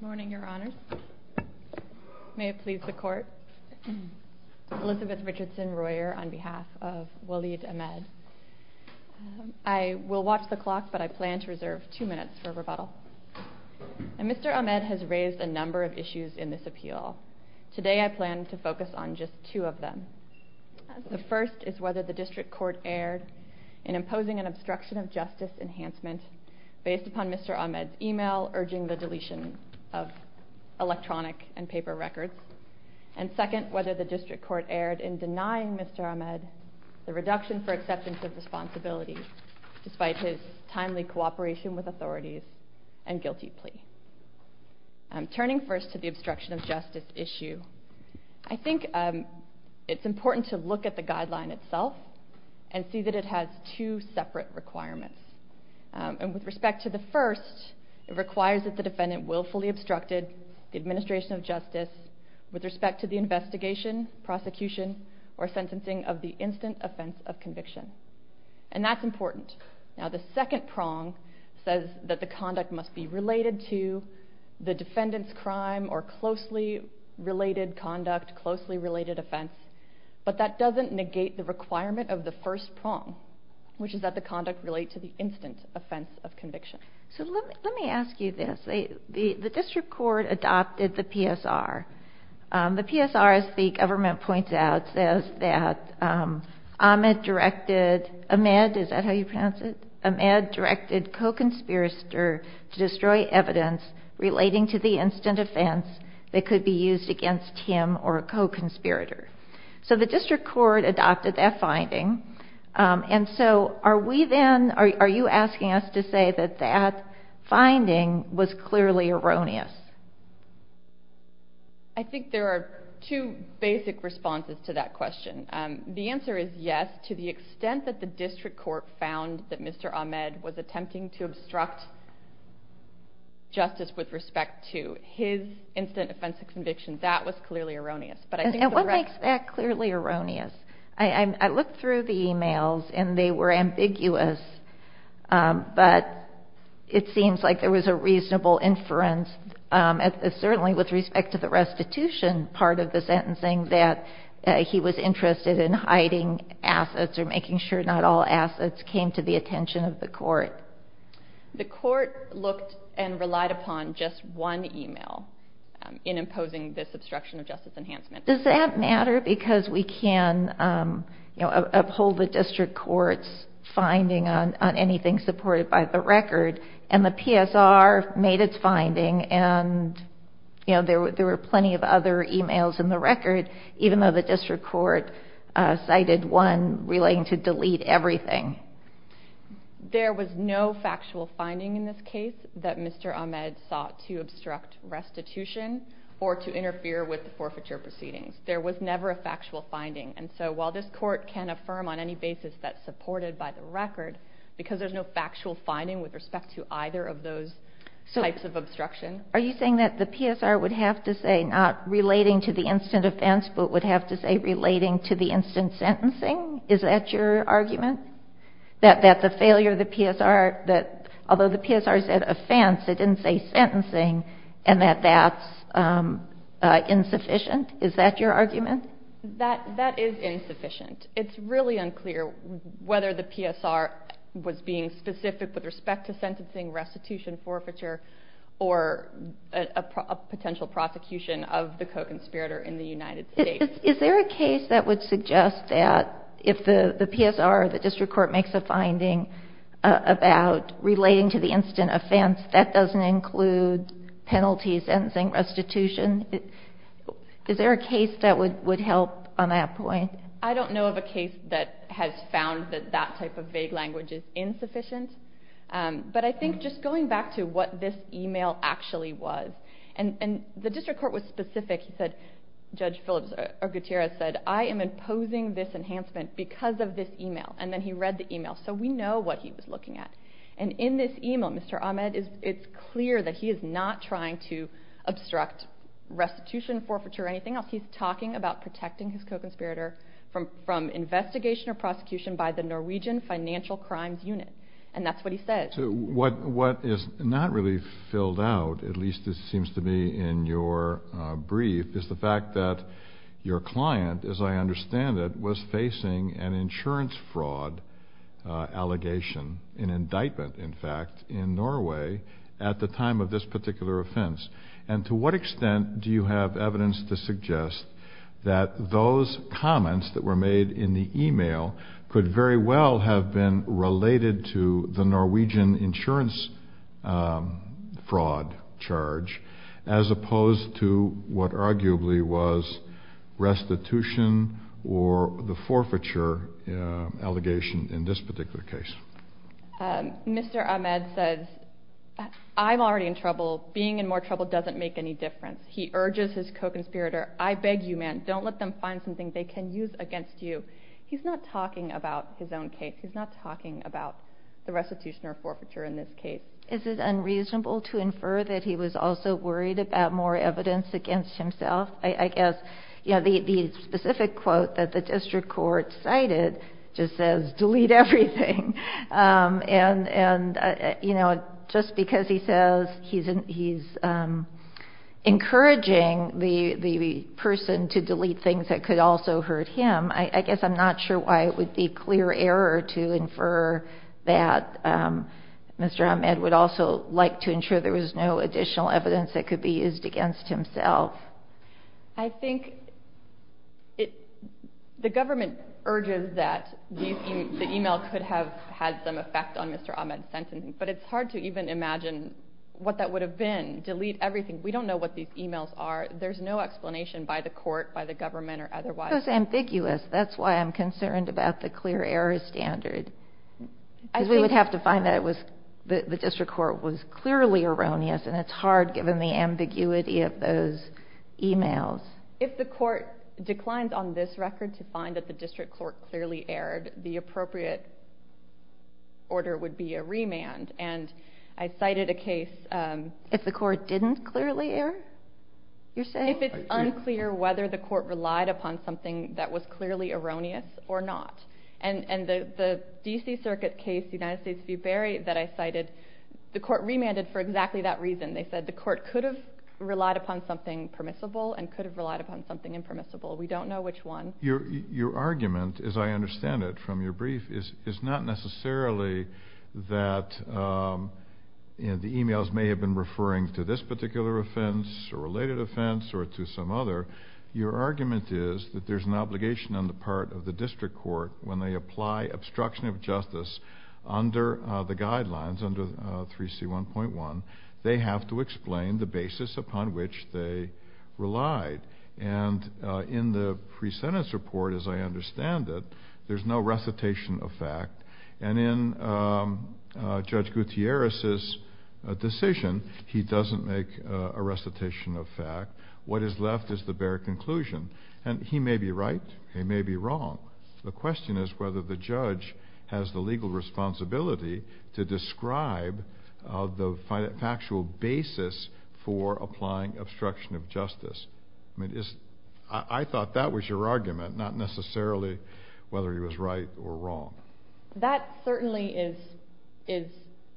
morning your honor may it please the court Elizabeth Richardson Royer on behalf of Waleed Ahmed I will watch the clock but I plan to reserve two minutes for rebuttal and mr. Ahmed has raised a number of issues in this appeal today I plan to focus on just two of them the first is whether the district court erred in imposing an obstruction of justice enhancement based upon mr. Ahmed email urging the deletion of electronic and paper records and second whether the district court erred in denying mr. Ahmed the reduction for acceptance of responsibility despite his timely cooperation with authorities and guilty plea I'm turning first to the obstruction of justice issue I think it's important to look at the guideline itself and see that it has two separate requirements and with respect to the first it requires that the defendant willfully obstructed the administration of justice with respect to the investigation prosecution or sentencing of the instant offense of conviction and that's important now the second prong says that the conduct must be related to the defendant's crime or closely related conduct closely related offense but that doesn't negate the requirement of the first prong which is that the conduct relate to the instant offense of conviction. So let me ask you this the district court adopted the PSR the PSR as the government points out says that Ahmed directed Ahmed is that how you pronounce it? Ahmed directed co-conspirator to destroy evidence relating to the instant offense that could be used against him or a co-conspirator so the district court adopted that finding and so are we then are you asking us to say that that finding was clearly erroneous? I think there are two basic responses to that question the answer is yes to the extent that the district court found that mr. Ahmed was attempting to that was clearly erroneous. And what makes that clearly erroneous? I looked through the emails and they were ambiguous but it seems like there was a reasonable inference certainly with respect to the restitution part of the sentencing that he was interested in hiding assets or making sure not all assets came to the attention of the court. The court looked and relied upon just one email in imposing this obstruction of justice enhancement. Does that matter because we can you know uphold the district courts finding on anything supported by the record and the PSR made its finding and you know there were there were plenty of other emails in the record even though the district court cited one relating to delete everything. There was no factual finding in this case that mr. Ahmed sought to with the forfeiture proceedings. There was never a factual finding and so while this court can affirm on any basis that supported by the record because there's no factual finding with respect to either of those types of obstruction. Are you saying that the PSR would have to say not relating to the instant offense but would have to say relating to the instant sentencing? Is that your argument? That that the failure of the PSR that although the PSR said offense it didn't say sentencing and that that's insufficient. Is that your argument? That that is insufficient. It's really unclear whether the PSR was being specific with respect to sentencing restitution forfeiture or a potential prosecution of the co-conspirator in the United States. Is there a case that would suggest that if the the PSR the district court makes a finding about relating to the instant offense that doesn't include penalties and sentencing restitution? Is there a case that would would help on that point? I don't know of a case that has found that that type of vague language is insufficient but I think just going back to what this email actually was and and the district court was specific he said Judge Phillips or Gutierrez said I am imposing this enhancement because of this email and then he read the email so we know what he was looking at and in this email Mr. Ahmed it's clear that he is not trying to obstruct restitution forfeiture or anything else. He's talking about protecting his co-conspirator from from investigation or prosecution by the Norwegian Financial Crimes Unit and that's what he said. So what what is not really filled out at least it seems to be in your brief is the fact that your client as I understand it was facing an indictment in fact in Norway at the time of this particular offense and to what extent do you have evidence to suggest that those comments that were made in the email could very well have been related to the Norwegian insurance fraud charge as opposed to what arguably was restitution or the forfeiture allegation in this particular case. Mr. Ahmed says I'm already in trouble being in more trouble doesn't make any difference. He urges his co-conspirator I beg you man don't let them find something they can use against you. He's not talking about his own case he's not talking about the restitution or forfeiture in this case. Is it unreasonable to infer that he was also worried about more evidence against himself? I guess you know the specific quote that the district court cited just says delete everything and and you know just because he says he's encouraging the the person to delete things that could also hurt him I guess I'm not sure why it would be clear error to infer that Mr. Ahmed would also like to ensure there was no additional evidence that could be used against himself. I think it the government urges that the email could have had some effect on Mr. Ahmed's sentencing but it's hard to even imagine what that would have been delete everything we don't know what these emails are there's no explanation by the court by the government or otherwise. It's ambiguous that's why I'm concerned about the clear error standard as we would have to find that it was the district court was hard given the ambiguity of those emails. If the court declines on this record to find that the district court clearly erred the appropriate order would be a remand and I cited a case. If the court didn't clearly err? You're saying? If it's unclear whether the court relied upon something that was clearly erroneous or not and and the the DC Circuit case United States v. Berry that I cited the court remanded for exactly that reason they said the court could have relied upon something permissible and could have relied upon something impermissible we don't know which one. Your argument as I understand it from your brief is is not necessarily that the emails may have been referring to this particular offense or related offense or to some other your argument is that there's an obligation on the part of the district court when they declines under 3C 1.1 they have to explain the basis upon which they relied and in the pre-sentence report as I understand it there's no recitation of fact and in Judge Gutierrez's decision he doesn't make a recitation of fact what is left is the bare conclusion and he may be right he may be wrong the question is whether the judge has the legal responsibility to describe the factual basis for applying obstruction of justice I mean is I thought that was your argument not necessarily whether he was right or wrong. That certainly is is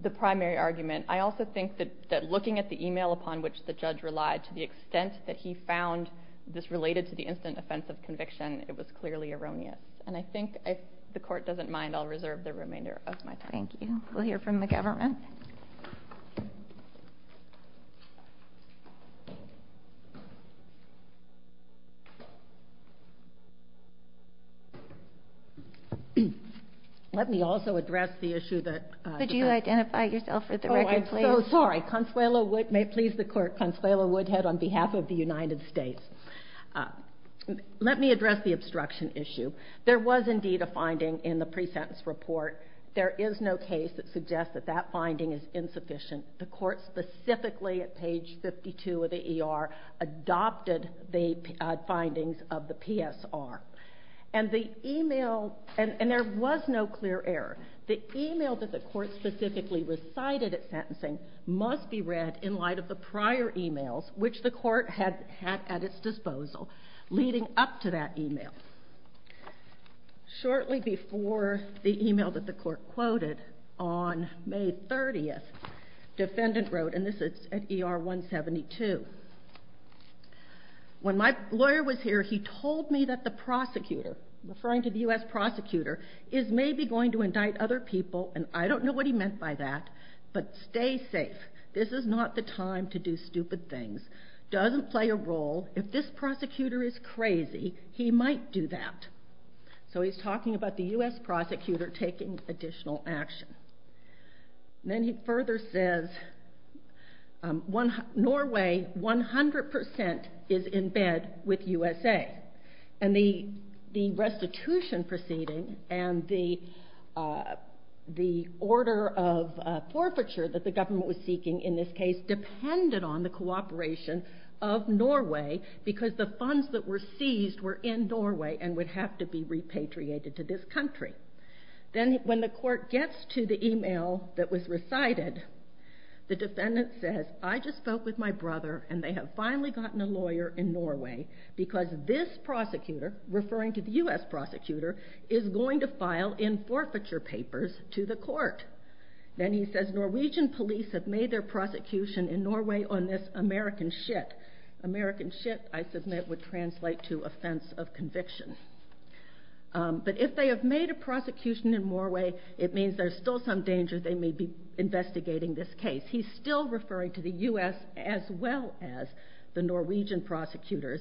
the primary argument I also think that that looking at the email upon which the judge relied to the extent that he found this related to the instant offense of the court doesn't mind I'll reserve the remainder of my time. Thank you. We'll hear from the government. Let me also address the issue that. Could you identify yourself for the record please? Oh I'm so sorry Consuelo Woodhead may please the court Consuelo Woodhead on behalf of the United States. Let me address the finding in the pre-sentence report there is no case that suggests that that finding is insufficient the court specifically at page 52 of the ER adopted the findings of the PSR and the email and there was no clear error the email that the court specifically recited at sentencing must be read in light of the prior emails which the court had had at its disposal leading up to that email. Shortly before the email that the court quoted on May 30th defendant wrote and this is at ER 172 when my lawyer was here he told me that the prosecutor referring to the US prosecutor is maybe going to indict other people and I don't know what he meant by that but stay safe this is not the time to do stupid things doesn't play a role if this prosecutor is crazy he might do that so he's talking about the US prosecutor taking additional action. Then he further says Norway 100% is in bed with USA and the restitution proceeding and the the order of forfeiture that the government was seeking in this case depended on the cooperation of Norway because the funds that were seized were in Norway and would have to be repatriated to this country. Then when the court gets to the email that was recited the defendant says I just spoke with my brother and they have finally gotten a lawyer in Norway because this prosecutor referring to the US prosecutor is going to file in forfeiture papers to the court. Then he says Norwegian police have made their prosecution in Norway on this American shit. American shit I submit would translate to offense of conviction but if they have made a prosecution in Norway it means there's still some danger they may be investigating this case. He's still referring to the US as well as the Norwegian prosecutors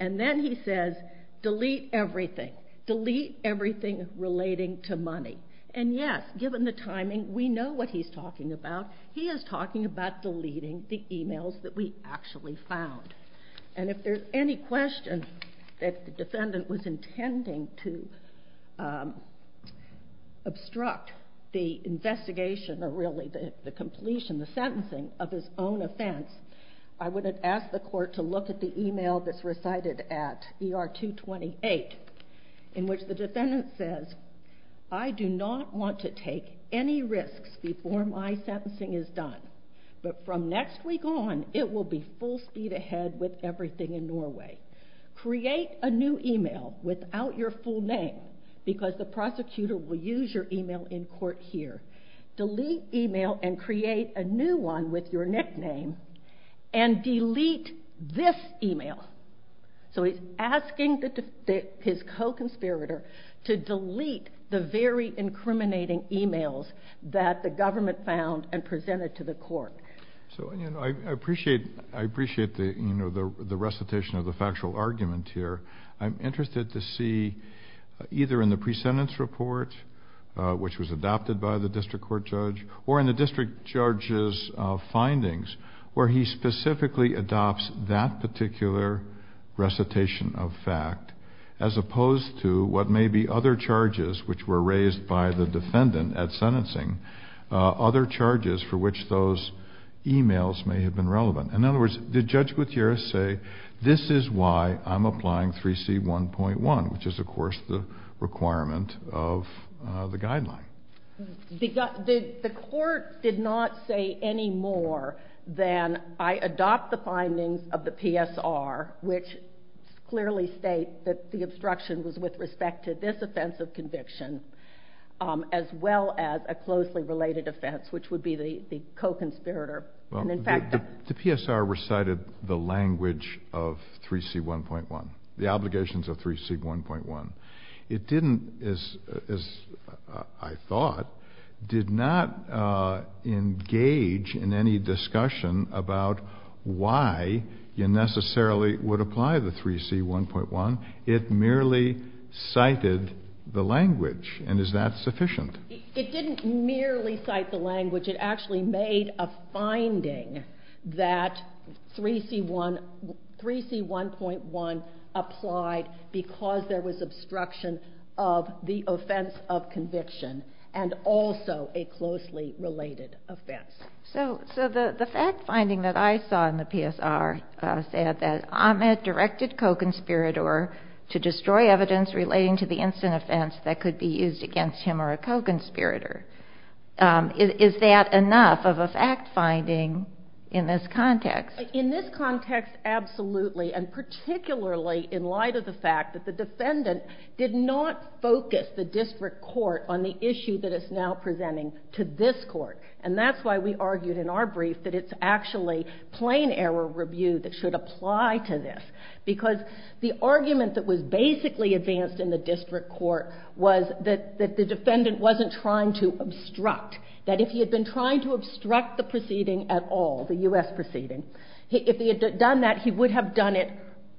and then he says delete everything delete everything relating to money and yes given the timing we know what he's talking about he is talking about deleting the emails that we actually found and if there's any question that the defendant was intending to obstruct the investigation or really the completion the sentencing of his own offense I would have asked the court to look at the email that's recited at ER 228 in which the defendant says I do not want to take any risks before my sentencing is done but from next week on it will be full speed ahead with everything in Norway. Create a new email without your full name because the prosecutor will use your email in court here. Delete email and create a new one with your nickname and delete this email so he's asking that his co-conspirator to delete the very incriminating emails that the government found and presented to the court. So I appreciate I appreciate the you know the recitation of the factual argument here I'm interested to see either in the pre-sentence report which was adopted by the district court judge or in the district judge's findings where he specifically adopts that particular recitation of fact as opposed to what may be other charges which were raised by the defendant at sentencing other charges for which those emails may have been relevant. In other words the judge would say this is why I'm applying 3c 1.1 which is of course the requirement of the guideline. The court did not say any more than I adopt the findings of the PSR which clearly state that the obstruction was with respect to this offense of conviction as well as a closely related offense which would be the co-conspirator. The PSR recited the language of 3c 1.1 the 3c 1.1 as I thought did not engage in any discussion about why you necessarily would apply the 3c 1.1 it merely cited the language and is that sufficient? It didn't merely cite the language it actually made a finding that 3c 1 3c 1.1 applied because there was obstruction of the offense of conviction and also a closely related offense. So the fact finding that I saw in the PSR said that Ahmed directed co-conspirator to destroy evidence relating to the instant offense that could be used against him or a co-conspirator. Is that enough of a in light of the fact that the defendant did not focus the district court on the issue that it's now presenting to this court and that's why we argued in our brief that it's actually plain error review that should apply to this because the argument that was basically advanced in the district court was that the defendant wasn't trying to obstruct. That if he had been trying to obstruct the proceeding at all, the U.S. proceeding, if he had done that he would have done it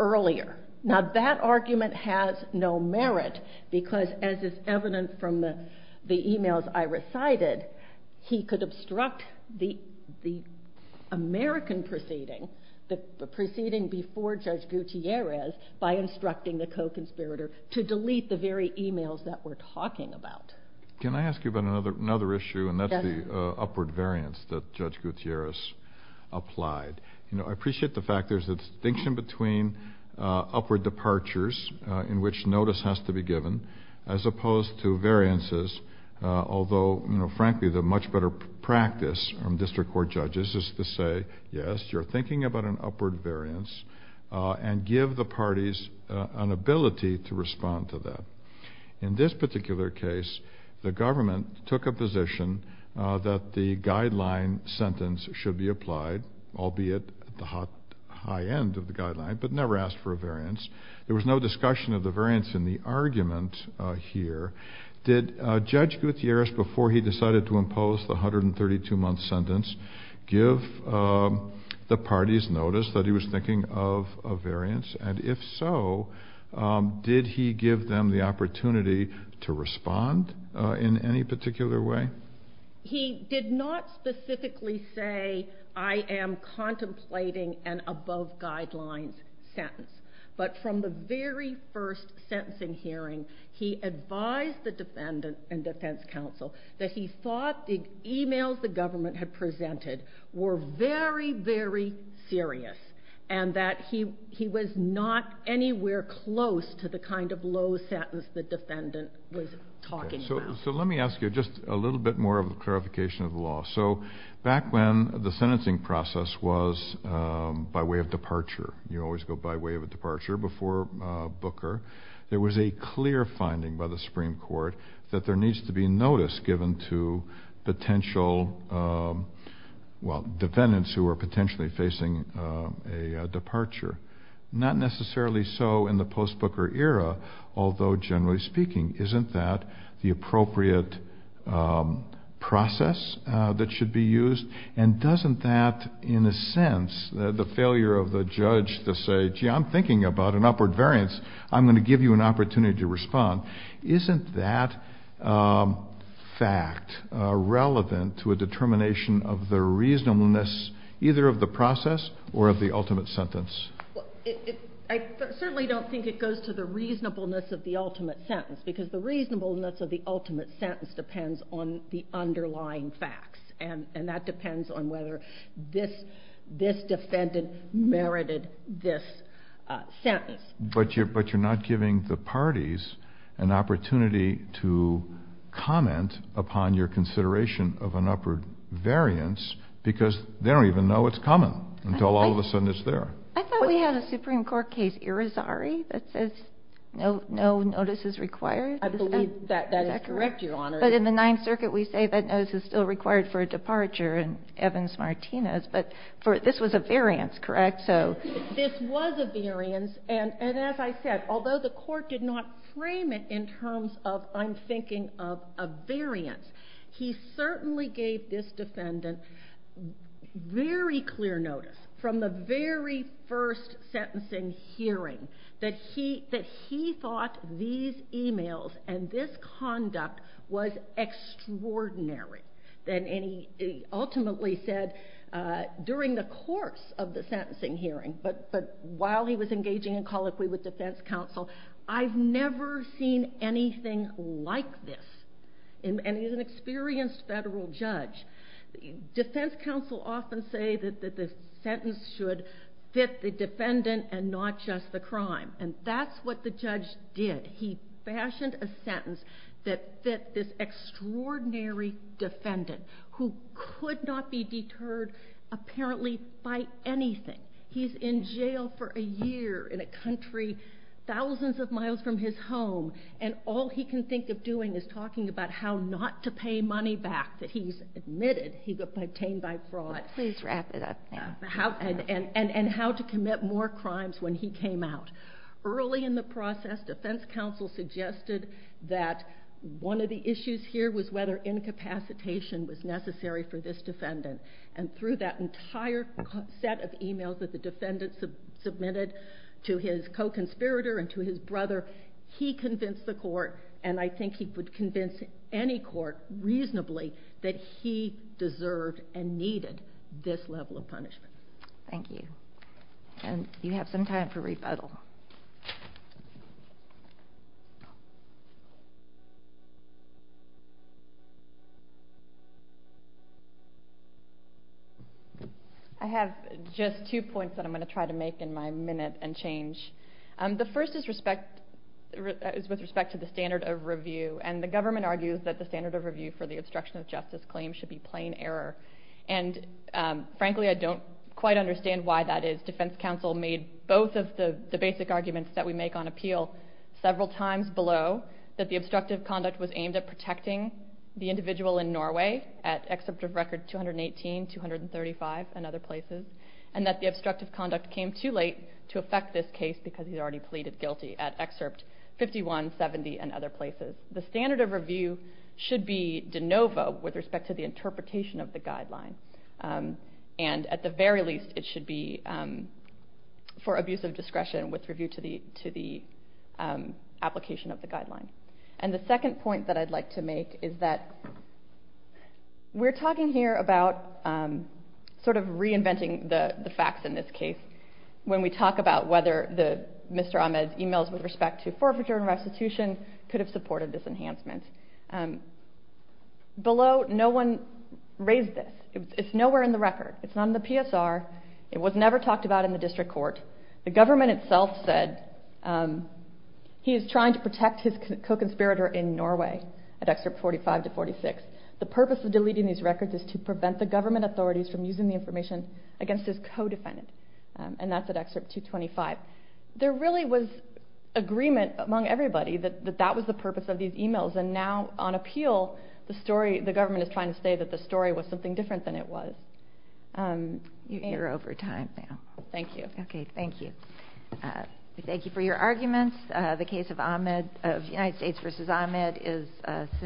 earlier. Now that argument has no merit because as is evident from the emails I recited he could obstruct the American proceeding, the proceeding before Judge Gutierrez by instructing the co-conspirator to delete the very emails that we're talking about. Can I ask you about another issue and that's the upward variance that Judge applied. You know I appreciate the fact there's a distinction between upward departures in which notice has to be given as opposed to variances, although frankly the much better practice from district court judges is to say yes you're thinking about an upward variance and give the parties an ability to respond to that. In this particular case the government took a position that the guideline sentence should be applied, albeit at the high end of the guideline, but never asked for a variance. There was no discussion of the variance in the argument here. Did Judge Gutierrez before he decided to impose the 132 month sentence give the parties notice that he was thinking of a variance and if so did he give them the opportunity to respond in any particular way? He did not specifically say I am contemplating an above guidelines sentence, but from the very first sentencing hearing he advised the defendant and defense counsel that he thought the emails the government had presented were very very serious and that he he was not anywhere close to the kind of low sentence the defendant was talking about. So let me ask you just a little bit more of a clarification of the law. So back when the sentencing process was by way of departure, you always go by way of a departure before Booker, there was a clear finding by the Supreme Court that there needs to be notice given to potential, well defendants who are potentially facing a departure. Not necessarily so in the post Booker era, although generally speaking, isn't that the appropriate process that should be used and doesn't that in a sense, the failure of the judge to say gee I'm thinking about an upward variance, I'm going to give you an opportunity to respond. Isn't that fact relevant to a determination of the reasonableness either of the process or of the ultimate sentence? I certainly don't think it goes to the reasonableness of the ultimate sentence because the reasonableness of the ultimate sentence depends on the underlying facts and that depends on whether this defendant merited this sentence. But you're not giving the parties an opportunity to comment upon your consideration of an upward variance because they don't even know it's coming until all of a sudden it's there. I thought we had a Supreme Court case, Irizarry, that says no notice is required. I believe that is correct, Your Honor. But in the Ninth Circuit we say that notice is still required for a departure in Evans-Martinez, but this was a variance, correct? This was a variance and as I said, although the court did not frame it in terms of I'm thinking of a variance, he certainly gave this defendant very clear notice from the very first sentencing hearing that he thought these emails and this conduct was extraordinary. And he ultimately said during the course of the sentencing hearing, but while he was engaging in colloquy with defense counsel, I've never seen anything like this. And he's an experienced federal judge. Defense counsel often say that the sentence should fit the defendant and not just the crime and that's what the judge did. He fashioned a sentence that fit this extraordinary defendant who could not be deterred apparently by anything. He's in jail for a year in a country thousands of miles from his home and all he can think of doing is talking about how not to pay money back that he's admitted he got obtained by fraud. Please wrap it up now. And how to commit more crimes when he came out. Early in the process, defense counsel suggested that one of the issues here was whether incapacitation was necessary for this defendant. And through that entire set of emails that the defendant submitted to his co-conspirator and to his brother, he convinced the court, and I think he would convince any court reasonably, that he deserved and needed this level of punishment. Thank you. And you have some time for rebuttal. I have just two points that I'm going to try to make in my minute and change The first is with respect to the standard of review and the government argues that the standard of review for the obstruction of justice claim should be plain error. And frankly I don't quite understand why that is. Defense counsel made both of the basic arguments that we make on appeal several times below that the obstructive conduct was aimed at protecting the individual in Norway at excerpt of record 218, 235 and other places and that the obstructive conduct came too late to affect this case because he's already pleaded guilty at excerpt 51, 70 and other places. The standard of review should be de novo with respect to the interpretation of the guideline and at the very least it should be for abuse of discretion with review to the application of the guideline. And the second point that I'd like to make is that we're talking here about sort of reinventing the facts in this case when we talk about whether Mr. Ahmed's emails with respect to forfeiture and restitution could have supported this enhancement. Below no one raised this, it's nowhere in the record, it's not in the PSR, it was never talked about in the district court, the government itself said he is trying to protect his co-conspirator in Norway at excerpt 45 to 46. The purpose of deleting these records is to prevent the government authorities from using the information against his co-defendant and that's at excerpt 225. There really was agreement among everybody that that was the purpose of these emails and now on appeal the story, the government is trying to say that the story was something different than it was. You're over time now. Thank you. Okay, thank you. We thank you for your arguments. The case of Ahmed, of United States v. Ahmed is suspended.